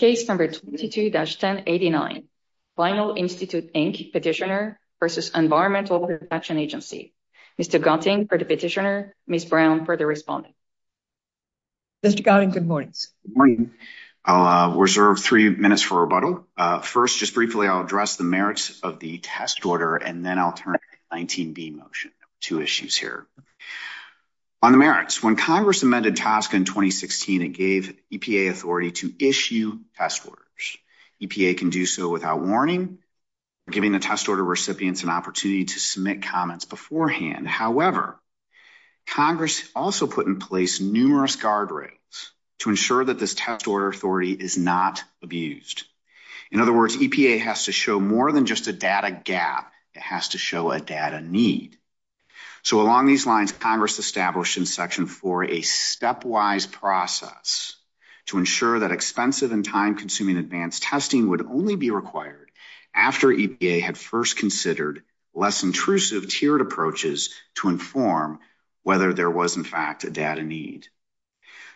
Case No. 22-1089, Vinyl Institute, Inc. Petitioner v. Environmental Protection Agency. Mr. Gauteng for the petitioner, Ms. Brown for the respondent. Mr. Gauteng, good morning. Good morning. I'll reserve three minutes for rebuttal. First, just briefly, I'll address the merits of the test order, and then I'll turn to the 19B motion. Two issues here. On the merits, when Congress amended TSCA in 2016, it gave EPA authority to issue test orders. EPA can do so without warning, giving the test order recipients an opportunity to submit comments beforehand. However, Congress also put in place numerous guardrails to ensure that this test order authority is not abused. In other words, EPA has to show more than just a data gap. It has to show a data need. So along these lines, Congress established in Section 4 a stepwise process to ensure that expensive and time-consuming advanced testing would only be required after EPA had first considered less intrusive tiered approaches to inform whether there was, in fact, a data need.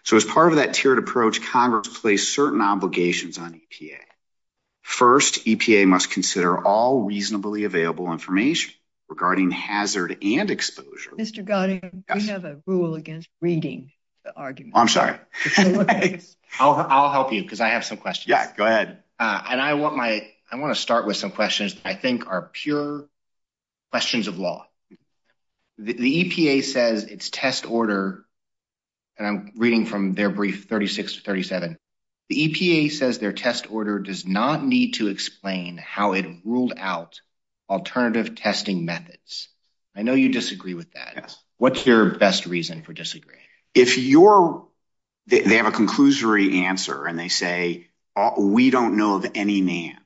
So as part of that tiered approach, Congress placed certain obligations on EPA. First, EPA must consider all reasonably available information regarding hazard and exposure. Mr. Gauteng, we have a rule against reading the argument. I'm sorry. I'll help you because I have some questions. Yeah, go ahead. And I want my, I want to start with some questions that I think are pure questions of law. The EPA says its test order, and I'm reading from their brief 36 to 37, the EPA says their test order does not need to explain how it ruled out alternative testing methods. I know you disagree with that. What's your best reason for disagreeing? If you're, they have a conclusory answer and they say, we don't know of any names.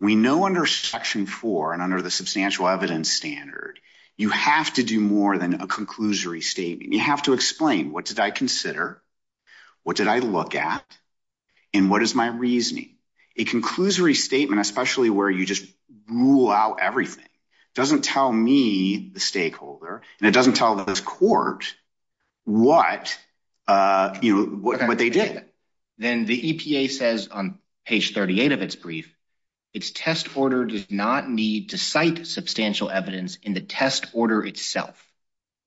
We know under Section 4 and under the substantial evidence standard, you have to do more than a conclusory statement. You have to explain, what did I consider? What did I look at? And what is my reasoning? A conclusory statement, especially where you just rule out everything, doesn't tell me, the stakeholder, and it doesn't tell this court what, you know, what they did. Yeah. Then the EPA says on page 38 of its brief, its test order does not need to cite substantial evidence in the test order itself.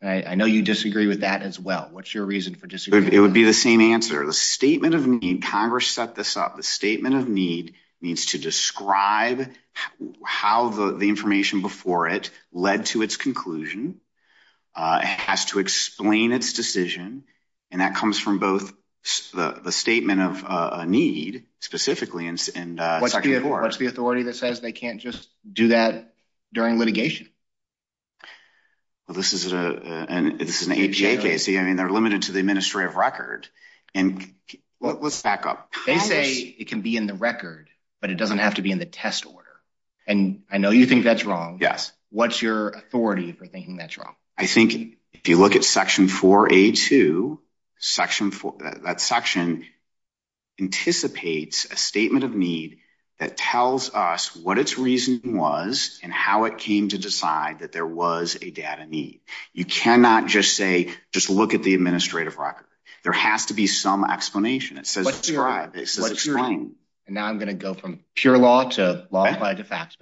I know you disagree with that as well. What's your reason for disagreeing? It would be the same answer. The statement of need, Congress set this up. The statement of need needs to describe how the information before it led to its conclusion. It has to explain its decision, and that comes from both the statement of need, specifically in Section 4. What's the authority that says they can't just do that during litigation? Well, this is an APA case. I mean, they're limited to the administrative record. And let's back up. They say it can be in the record, but it doesn't have to be in the test order. And I know you think that's wrong. Yes. What's your authority for thinking that's wrong? I think if you look at Section 4A2, that section anticipates a statement of need that tells us what its reason was and how it came to decide that there was a data need. You cannot just say, just look at the administrative record. There has to be some explanation. It says describe. It says explain. And now I'm going to go from pure law to law applied to facts.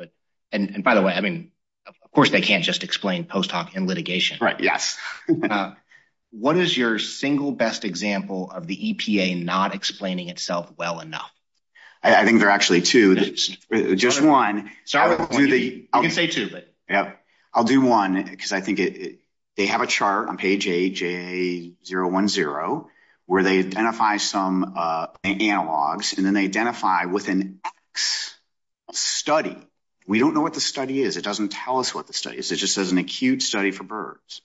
And by the way, I mean, of course they can't just explain post hoc in litigation. Right. Yes. What is your single best example of the EPA not explaining itself well enough? I think there are actually two. Just one. I'll do one because I think they have a chart on page 010 where they identify some analogs and then they identify with an X study. We don't know what the study is. It doesn't tell us what the study is. It just says an acute study for birds.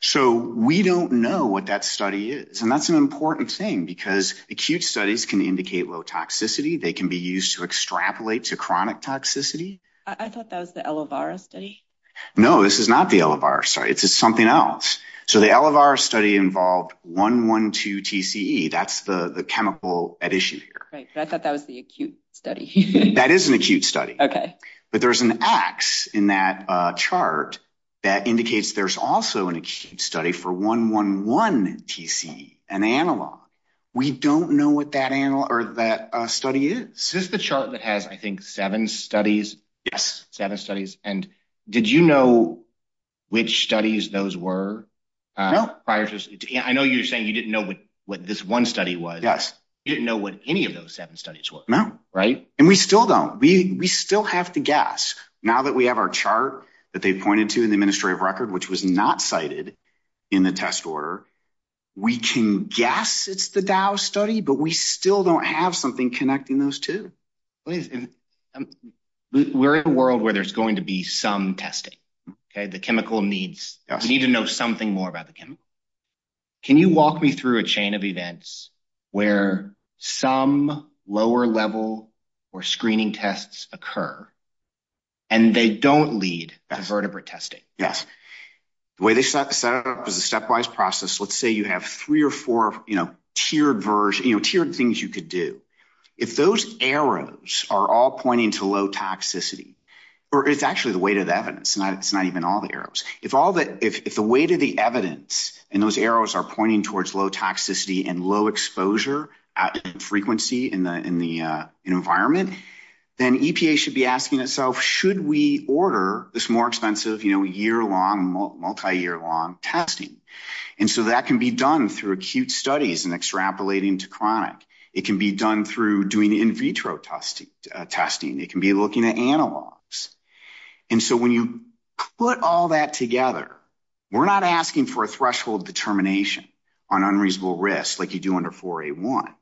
So we don't know what that study is. And that's an important thing because acute studies can indicate low toxicity. They can be used to extrapolate to chronic toxicity. I thought that was the Elevara study. No, this is not the Elevara study. It's something else. So the Elevara study involved 112 TCE. That's the chemical at issue here. Right. I thought that was the acute study. That is an acute study. Okay. But there's an X in that chart that indicates there's also an acute study for 111 TCE, an analog. We don't know what that study is. This is the chart that has, I think, seven studies. Yes. Seven studies. And did you know which studies those were? No. I know you're saying you didn't know what this one study was. Yes. You didn't know what any of those seven studies were. No. Right. And we still don't. We still have to guess. Now that we have our chart that they pointed to in the administrative record, which was not cited in the test order, we can guess it's the Dow study, but we still don't have something connecting those two. We're in a world where there's going to be some testing. Okay. The chemical needs. We need to know something more about the chemical. Can you walk me through a chain of events where some lower level or screening tests occur and they don't lead to vertebrate testing? Yes. The way they set up is a stepwise process. Let's say you have three or four tiered things you could do. If those arrows are all pointing to low toxicity, or it's actually the weight of the evidence. It's not even all the arrows. If the weight of the evidence and those arrows are pointing towards low toxicity and low exposure and frequency in the environment, then EPA should be asking itself, should we order this more expensive, year-long, multi-year-long testing? That can be done through acute studies and extrapolating to chronic. It can be done through doing in vitro testing. It can be looking at analogs. When you put all that together, we're not asking for a threshold determination on unreasonable risk like you do under 4A1.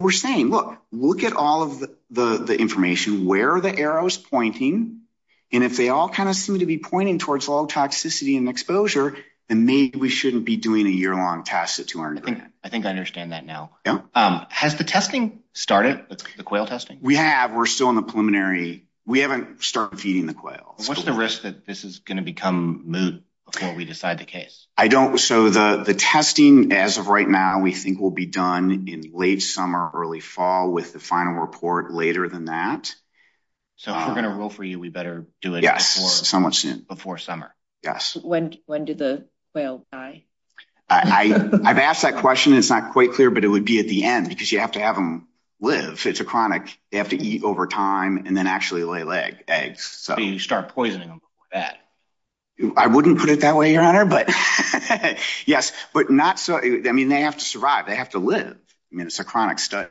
We're saying, look at all of the information. Where are the arrows pointing? If they all seem to be pointing towards low toxicity and exposure, then maybe we shouldn't be doing a year-long test at 200 grand. I think I understand that now. Has the testing started, the quail testing? We have. We're still in the preliminary. We haven't started feeding the quails. What's the risk that this is going to become moot before we decide the case? The testing, as of right now, we think will be done in late summer, early fall, with the final report later than that. If we're going to rule for you, we better do it before summer? Yes, somewhat soon. When do the quail die? I've asked that question. It's not quite clear, but it would be at the end because you have to have them live. It's a chronic. They have to eat over time and then actually lay eggs. You start poisoning them with that? I wouldn't put it that way, Your Honor, but yes. They have to survive. They have to live. It's a chronic study.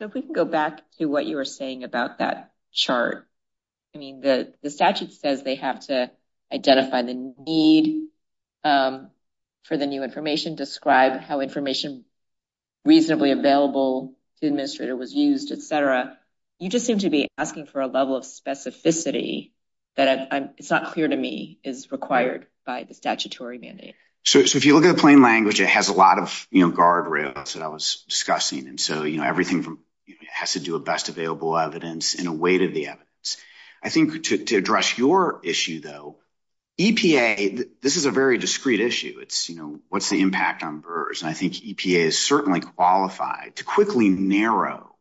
If we can go back to what you were saying about that chart. The statute says they have to identify the need for the new information, describe how information reasonably available to the administrator was used, etc. Your Honor, you just seem to be asking for a level of specificity that it's not clear to me is required by the statutory mandate. If you look at the plain language, it has a lot of guardrails that I was discussing. Everything has to do with best available evidence in a way to the evidence. I think to address your issue, though, EPA, this is a very discreet issue. It's, you know, what's the impact on BRRRS? And I think EPA is certainly qualified to quickly narrow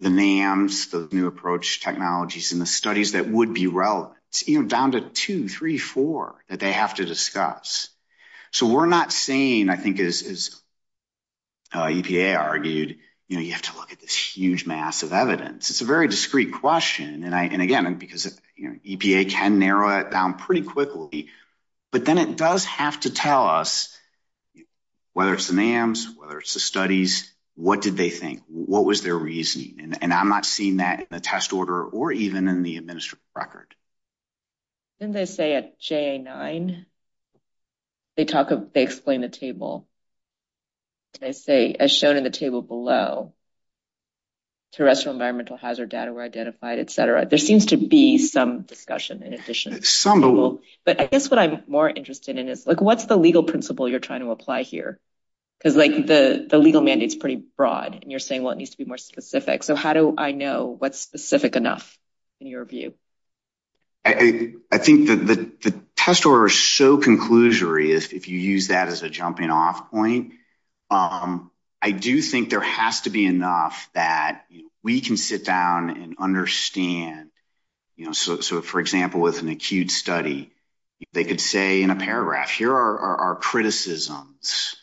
the NAMs, the new approach technologies and the studies that would be relevant down to 2, 3, 4 that they have to discuss. So we're not saying, I think, as EPA argued, you have to look at this huge mass of evidence. It's a very discreet question. And again, because EPA can narrow it down pretty quickly. But then it does have to tell us whether it's the NAMs, whether it's the studies, what did they think? What was their reasoning? And I'm not seeing that in the test order or even in the administrative record. Didn't they say at JA9, they explain the table. They say, as shown in the table below, terrestrial environmental hazard data were identified, etc. There seems to be some discussion in addition. But I guess what I'm more interested in is, like, what's the legal principle you're trying to apply here? Because, like, the legal mandate is pretty broad and you're saying, well, it needs to be more specific. So how do I know what's specific enough in your view? I think that the test order is so conclusory if you use that as a jumping off point. I do think there has to be enough that we can sit down and understand. So, for example, with an acute study, they could say in a paragraph, here are our criticisms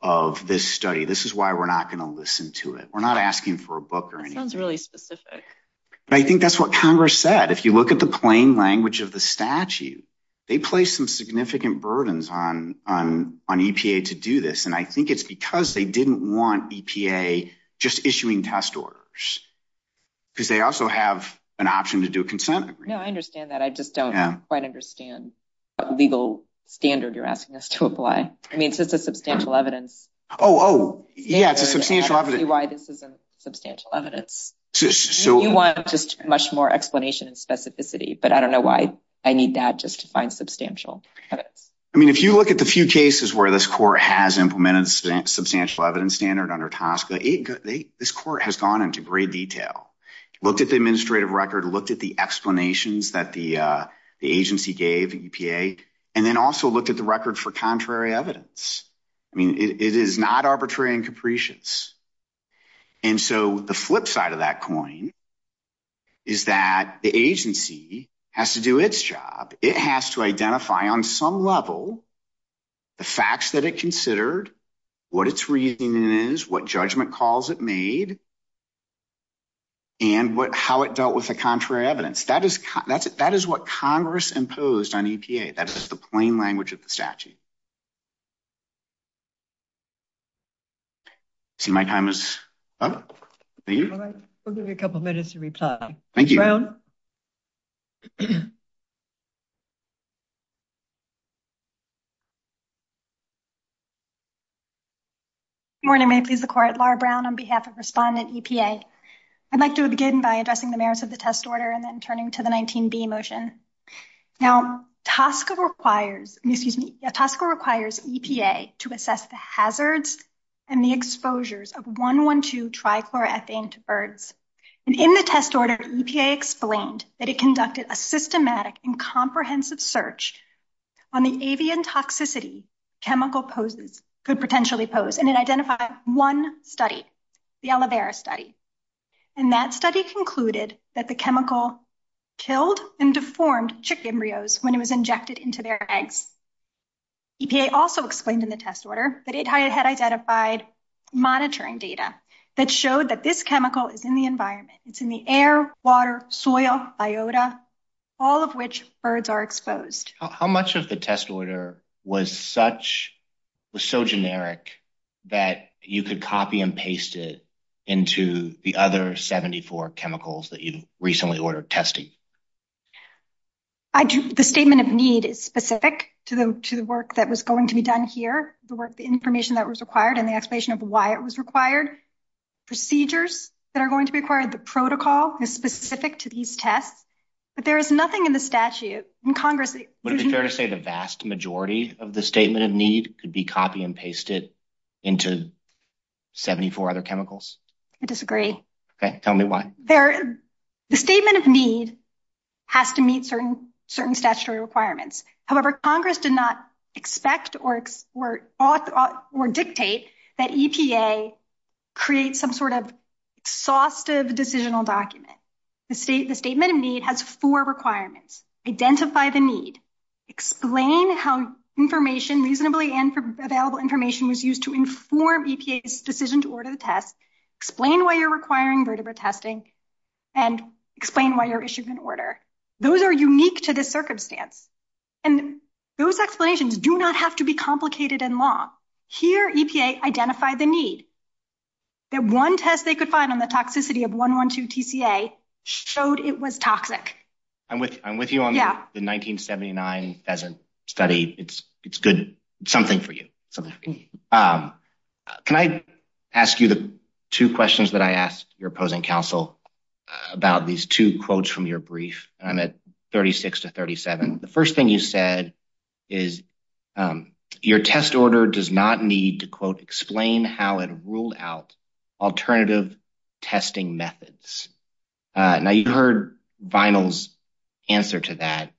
of this study. This is why we're not going to listen to it. We're not asking for a book or anything. That sounds really specific. I think that's what Congress said. If you look at the plain language of the statute, they place some significant burdens on EPA to do this. And I think it's because they didn't want EPA just issuing test orders, because they also have an option to do a consent agreement. No, I understand that. I just don't quite understand the legal standard you're asking us to apply. I mean, it's just a substantial evidence. Oh, yeah, it's a substantial evidence. I don't see why this isn't substantial evidence. You want just much more explanation and specificity, but I don't know why I need that just to find substantial evidence. I mean, if you look at the few cases where this court has implemented a substantial evidence standard under TSCA, this court has gone into great detail. Looked at the administrative record, looked at the explanations that the agency gave EPA, and then also looked at the record for contrary evidence. I mean, it is not arbitrary and capricious. And so the flip side of that coin is that the agency has to do its job. It has to identify on some level the facts that it considered, what its reasoning is, what judgment calls it made, and how it dealt with the contrary evidence. That is what Congress imposed on EPA. That is the plain language of the statute. See, my time is up. Thank you. We'll give you a couple of minutes to reply. Thank you. Good morning. Good morning. May it please the court. Laura Brown on behalf of respondent EPA. I'd like to begin by addressing the merits of the test order and then turning to the 19B motion. Now, TSCA requires, excuse me, TSCA requires EPA to assess the hazards and the exposures of 1, 1, 2 trichloroethane to birds. And in the test order, EPA explained that it conducted a systematic and comprehensive search on the avian toxicity chemical poses could potentially pose. And it identified one study, the aloe vera study. And that study concluded that the chemical killed and deformed chick embryos when it was injected into their eggs. EPA also explained in the test order that it had identified monitoring data that showed that this chemical is in the environment. It's in the air, water, soil, biota, all of which birds are exposed. How much of the test order was such was so generic that you could copy and paste it into the other 74 chemicals that you recently ordered testing? I do. The statement of need is specific to the to the work that was going to be done here. The work, the information that was required and the explanation of why it was required procedures that are going to be required. The protocol is specific to these tests, but there is nothing in the statute in Congress. Would it be fair to say the vast majority of the statement of need could be copy and pasted into 74 other chemicals? I disagree. Tell me why. The statement of need has to meet certain certain statutory requirements. However, Congress did not expect or or or dictate that EPA create some sort of exhaustive decisional document. The state, the statement of need has four requirements. Identify the need. Explain how information reasonably and available information was used to inform EPA's decision to order the test. Explain why you're requiring vertebrae testing and explain why you're issued an order. Those are unique to this circumstance, and those explanations do not have to be complicated and long. Here, EPA identified the need. That one test they could find on the toxicity of one one two TCA showed it was toxic. I'm with I'm with you on the 1979 study. It's it's good. Something for you. Can I ask you the two questions that I asked your opposing counsel about these two quotes from your brief? I'm at thirty six to thirty seven. The first thing you said is your test order does not need to, quote, explain how it ruled out alternative testing methods. Now you heard Vinyl's answer to that.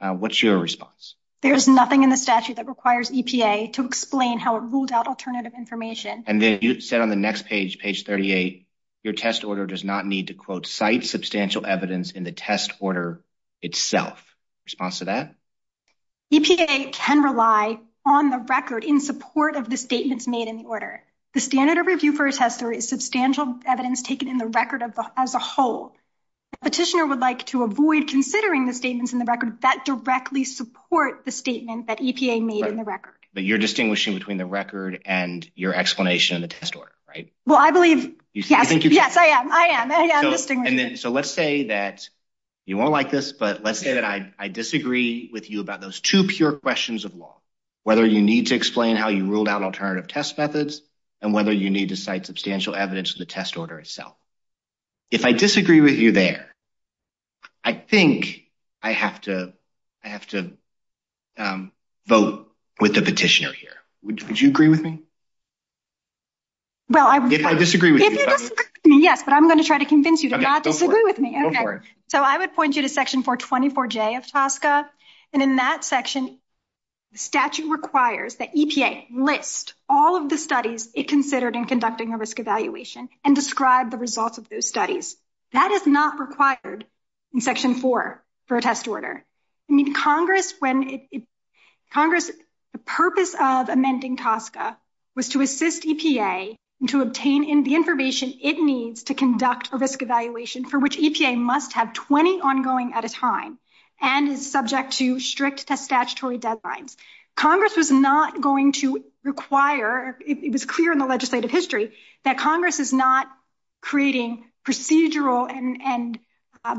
What's your response? There is nothing in the statute that requires EPA to explain how it ruled out alternative information. And then you said on the next page, page 38, your test order does not need to, quote, cite substantial evidence in the test order itself. Response to that. EPA can rely on the record in support of the statements made in the order. The standard of review for a tester is substantial evidence taken in the record as a whole. Petitioner would like to avoid considering the statements in the record that directly support the statement that EPA made in the record. But you're distinguishing between the record and your explanation of the test order. Right. Well, I believe. Yes. Yes, I am. I am. And so let's say that you won't like this, but let's say that I disagree with you about those two pure questions of law, whether you need to explain how you ruled out alternative test methods and whether you need to cite substantial evidence in the test order itself. If I disagree with you there, I think I have to I have to vote with the petitioner here. Would you agree with me? Well, I would disagree with you. Yes, but I'm going to try to convince you to not disagree with me. So I would point you to Section 424 J of TSCA. And in that section, the statute requires that EPA list all of the studies it considered in conducting a risk evaluation and describe the results of those studies. That is not required in Section four for a test order. I mean, Congress, when Congress. The purpose of amending TSCA was to assist EPA to obtain the information it needs to conduct a risk evaluation for which EPA must have 20 ongoing at a time and is subject to strict statutory deadlines. Congress was not going to require it was clear in the legislative history that Congress is not creating procedural and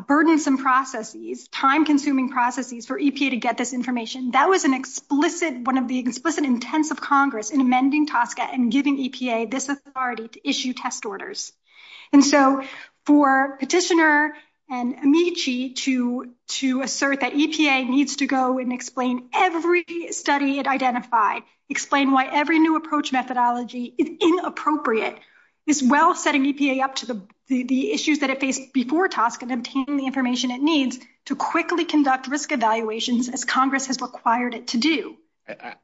burdensome processes, time consuming processes for EPA to get this information. That was an explicit one of the explicit intents of Congress in amending TSCA and giving EPA this authority to issue test orders. And so for petitioner and Amici to to assert that EPA needs to go and explain every study it identified, explain why every new approach methodology is inappropriate. It's well setting EPA up to the issues that it faced before TSCA and obtaining the information it needs to quickly conduct risk evaluations as Congress has required it to do.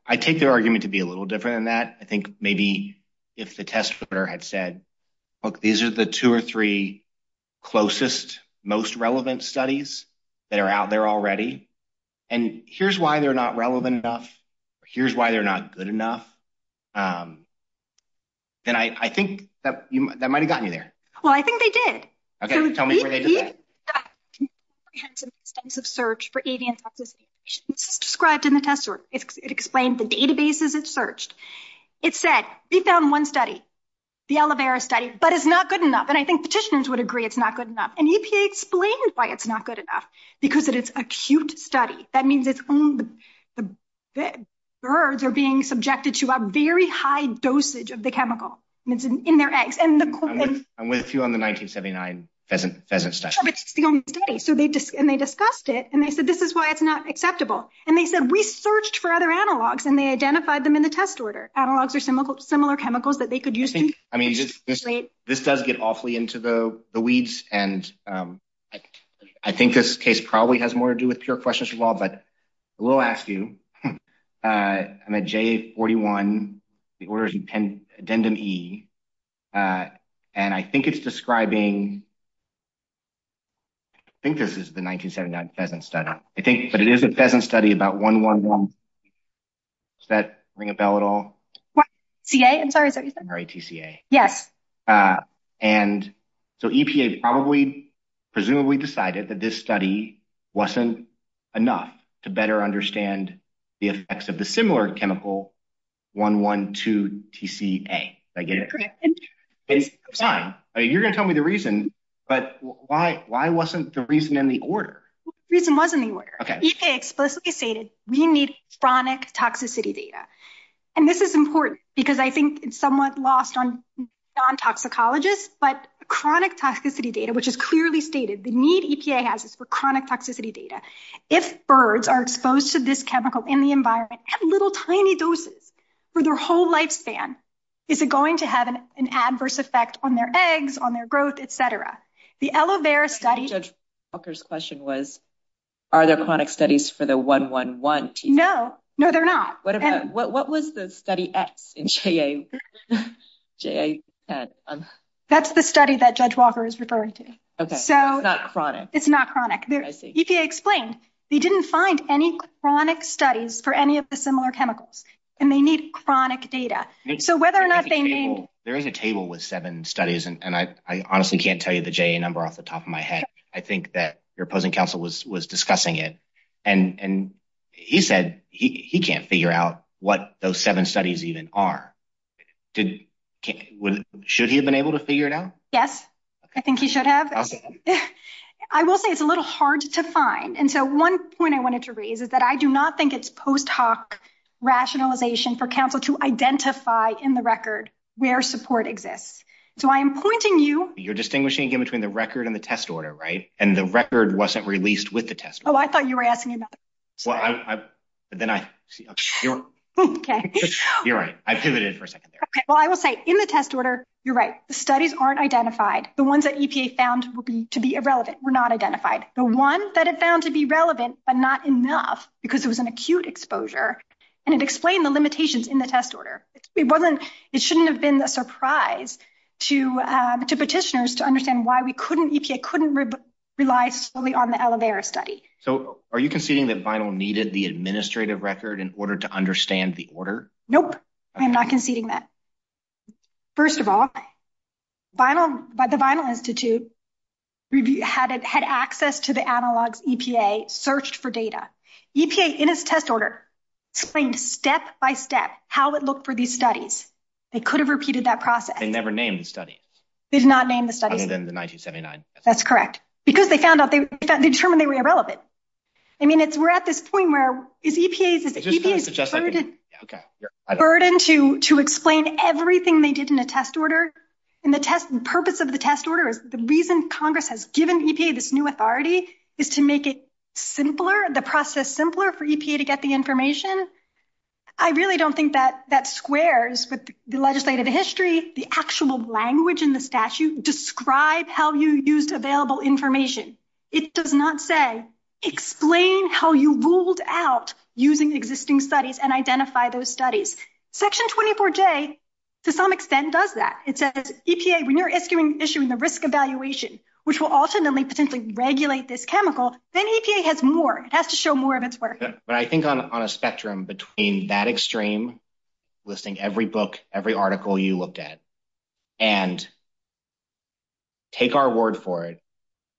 I take their argument to be a little different than that. I think maybe if the test order had said, look, these are the two or three closest, most relevant studies that are out there already. And here's why they're not relevant enough. Here's why they're not good enough. Then I think that that might have gotten you there. Well, I think they did. OK, tell me. I had some extensive search for avian subscribed in the test. It explained the databases it searched. It said we found one study, the aloe vera study, but it's not good enough. And I think petitioners would agree it's not good enough. And EPA explained why it's not good enough, because it's acute study. That means it's the birds are being subjected to a very high dosage of the chemical in their eggs. I'm with you on the 1979 pheasant study. And they discussed it and they said, this is why it's not acceptable. And they said, we searched for other analogs and they identified them in the test order. Analogs are similar chemicals that they could use. This does get awfully into the weeds. And I think this case probably has more to do with pure questions from all. But we'll ask you. I'm a J41. The order is addendum E. And I think it's describing. I think this is the 1979 pheasant study, I think, but it is a pheasant study about one, one, one. Does that ring a bell at all? I'm sorry. Yes. And so EPA probably presumably decided that this study wasn't enough to better understand the effects of the similar chemical one, one, two, TCA. I get it. You're going to tell me the reason. But why? Why wasn't the reason in the order? The reason wasn't the order. EPA explicitly stated we need chronic toxicity data. And this is important because I think it's somewhat lost on non-toxicologists. But chronic toxicity data, which is clearly stated, the need EPA has is for chronic toxicity data. If birds are exposed to this chemical in the environment at little tiny doses for their whole lifespan, is it going to have an adverse effect on their eggs, on their growth, et cetera? Judge Walker's question was, are there chronic studies for the one, one, one TCA? No, no, they're not. What was the study X in JAN? That's the study that Judge Walker is referring to. It's not chronic. It's not chronic. EPA explained they didn't find any chronic studies for any of the similar chemicals and they need chronic data. There is a table with seven studies, and I honestly can't tell you the JAN number off the top of my head. I think that your opposing counsel was discussing it, and he said he can't figure out what those seven studies even are. Should he have been able to figure it out? Yes, I think he should have. I will say it's a little hard to find. And so one point I wanted to raise is that I do not think it's post hoc rationalization for counsel to identify in the record where support exists. So I am pointing you. You're distinguishing between the record and the test order, right? And the record wasn't released with the test. Oh, I thought you were asking about. Well, then I see. OK, you're right. I pivoted for a second there. Well, I will say in the test order, you're right. The ones that EPA found will be to be irrelevant were not identified. The one that it found to be relevant, but not enough because it was an acute exposure. And it explained the limitations in the test order. It wasn't. It shouldn't have been a surprise to to petitioners to understand why we couldn't EPA couldn't rely solely on the elevator study. So are you conceding that vinyl needed the administrative record in order to understand the order? Nope, I'm not conceding that. First of all, vinyl by the Vinyl Institute review had it had access to the analogs EPA searched for data. EPA in its test order explained step by step how it looked for these studies. They could have repeated that process. They never named the study. They did not name the study. Other than the 1979. That's correct. Because they found out they determined they were irrelevant. I mean, it's we're at this point where is EPA burden to to explain everything they did in a test order. And the purpose of the test order is the reason Congress has given EPA this new authority is to make it simpler. The process simpler for EPA to get the information. I really don't think that that squares with the legislative history. The actual language in the statute describe how you used available information. It does not say explain how you ruled out using existing studies and identify those studies. Section 24 J to some extent does that. It says EPA when you're issuing issuing the risk evaluation, which will ultimately potentially regulate this chemical. Then EPA has more. It has to show more of its work. But I think on a spectrum between that extreme listing every book, every article you looked at and. Take our word for it.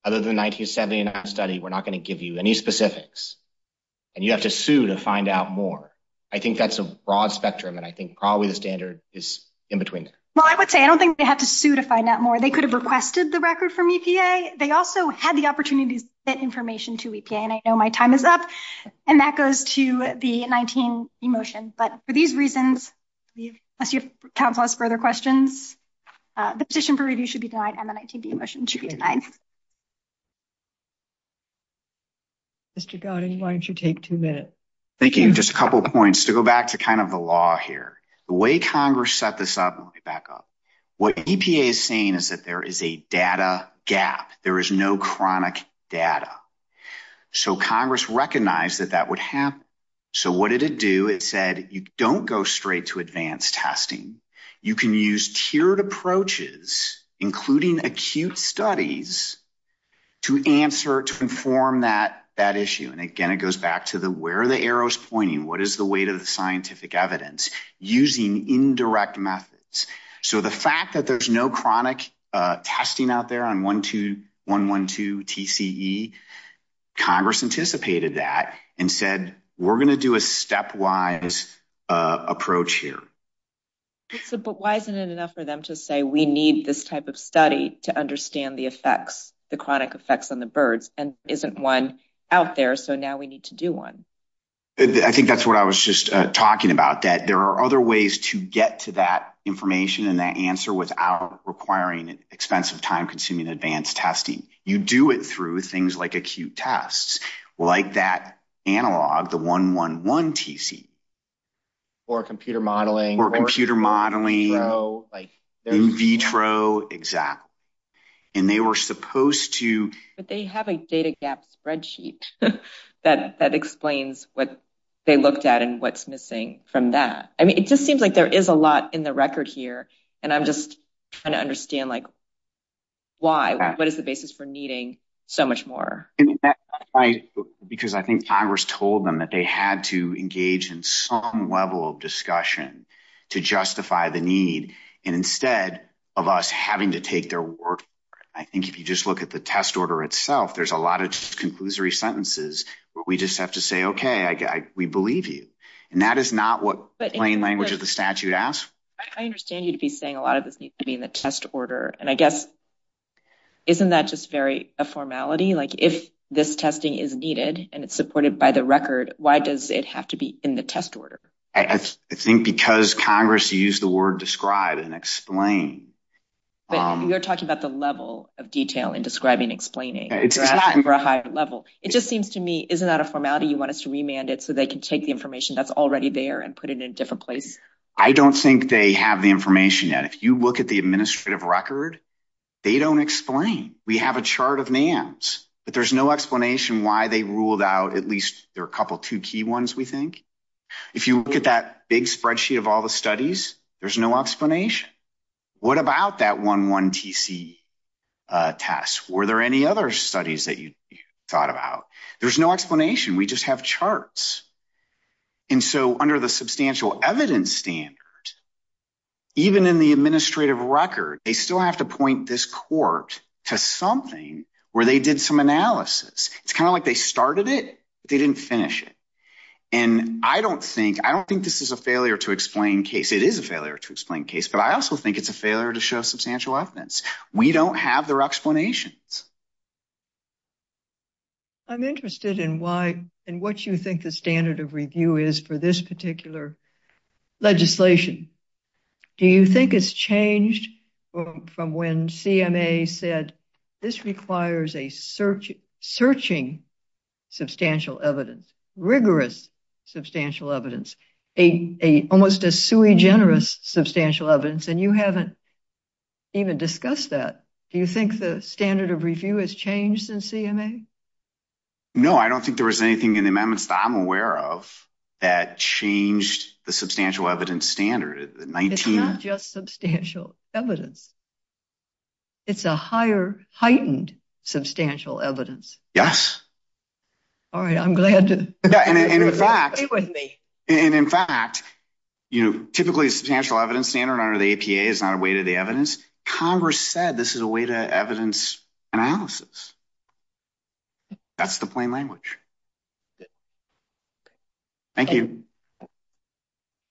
Other than 1979 study, we're not going to give you any specifics. And you have to sue to find out more. I think that's a broad spectrum. And I think probably the standard is in between. Well, I would say I don't think they have to sue to find out more. They could have requested the record from EPA. They also had the opportunities that information to EPA. And I know my time is up and that goes to the 19 emotion. But for these reasons, as your counsel has further questions, the position for review should be denied. And then I think the emotion should be denied. Mr. God, why don't you take 2 minutes? Thank you. Just a couple of points to go back to kind of the law here, the way Congress set this up. Let me back up. What EPA is saying is that there is a data gap. There is no chronic data. So Congress recognized that that would happen. So what did it do? It said you don't go straight to advanced testing. You can use tiered approaches, including acute studies to answer to inform that that issue. And again, it goes back to the where the arrows pointing. What is the weight of the scientific evidence using indirect methods? So the fact that there's no chronic testing out there on 1, 2, 1, 1, 2, TCE, Congress anticipated that and said, we're going to do a stepwise approach here. But why isn't it enough for them to say we need this type of study to understand the effects, the chronic effects on the birds? And isn't 1 out there. So now we need to do 1. I think that's what I was just talking about. That there are other ways to get to that information and that answer without requiring expensive, time consuming, advanced testing. You do it through things like acute tests, like that analog, the 1, 1, 1, TCE. Or computer modeling. Or computer modeling. In vitro. In vitro, exactly. And they were supposed to. But they have a data gap spreadsheet that explains what they looked at and what's missing from that. I mean, it just seems like there is a lot in the record here. And I'm just trying to understand, like, why? What is the basis for needing so much more? Because I think Congress told them that they had to engage in some level of discussion to justify the need. And instead of us having to take their word for it. I think if you just look at the test order itself, there's a lot of conclusory sentences where we just have to say, okay, we believe you. And that is not what plain language of the statute asks. I understand you'd be saying a lot of this needs to be in the test order. And I guess isn't that just very a formality? Like, if this testing is needed and it's supported by the record, why does it have to be in the test order? I think because Congress used the word describe and explain. But you're talking about the level of detail in describing and explaining for a higher level. It just seems to me, isn't that a formality? You want us to remand it so they can take the information that's already there and put it in a different place? I don't think they have the information yet. If you look at the administrative record, they don't explain. We have a chart of NAMs. But there's no explanation why they ruled out at least a couple of two key ones, we think. If you look at that big spreadsheet of all the studies, there's no explanation. What about that 11TC test? Were there any other studies that you thought about? There's no explanation. We just have charts. And so under the substantial evidence standard, even in the administrative record, they still have to point this court to something where they did some analysis. It's kind of like they started it, but they didn't finish it. And I don't think this is a failure to explain case. It is a failure to explain case, but I also think it's a failure to show substantial evidence. We don't have their explanations. I'm interested in why and what you think the standard of review is for this particular legislation. Do you think it's changed from when CMA said this requires a searching substantial evidence, rigorous substantial evidence, almost a sui generis substantial evidence? And you haven't even discussed that. Do you think the standard of review has changed since CMA? No, I don't think there was anything in the amendments that I'm aware of that changed the substantial evidence standard. It's not just substantial evidence. It's a higher heightened substantial evidence. Yes. All right. I'm glad to. And in fact, and in fact, you know, typically substantial evidence standard under the APA is not a way to the evidence. Congress said this is a way to evidence analysis. That's the plain language. Thank you.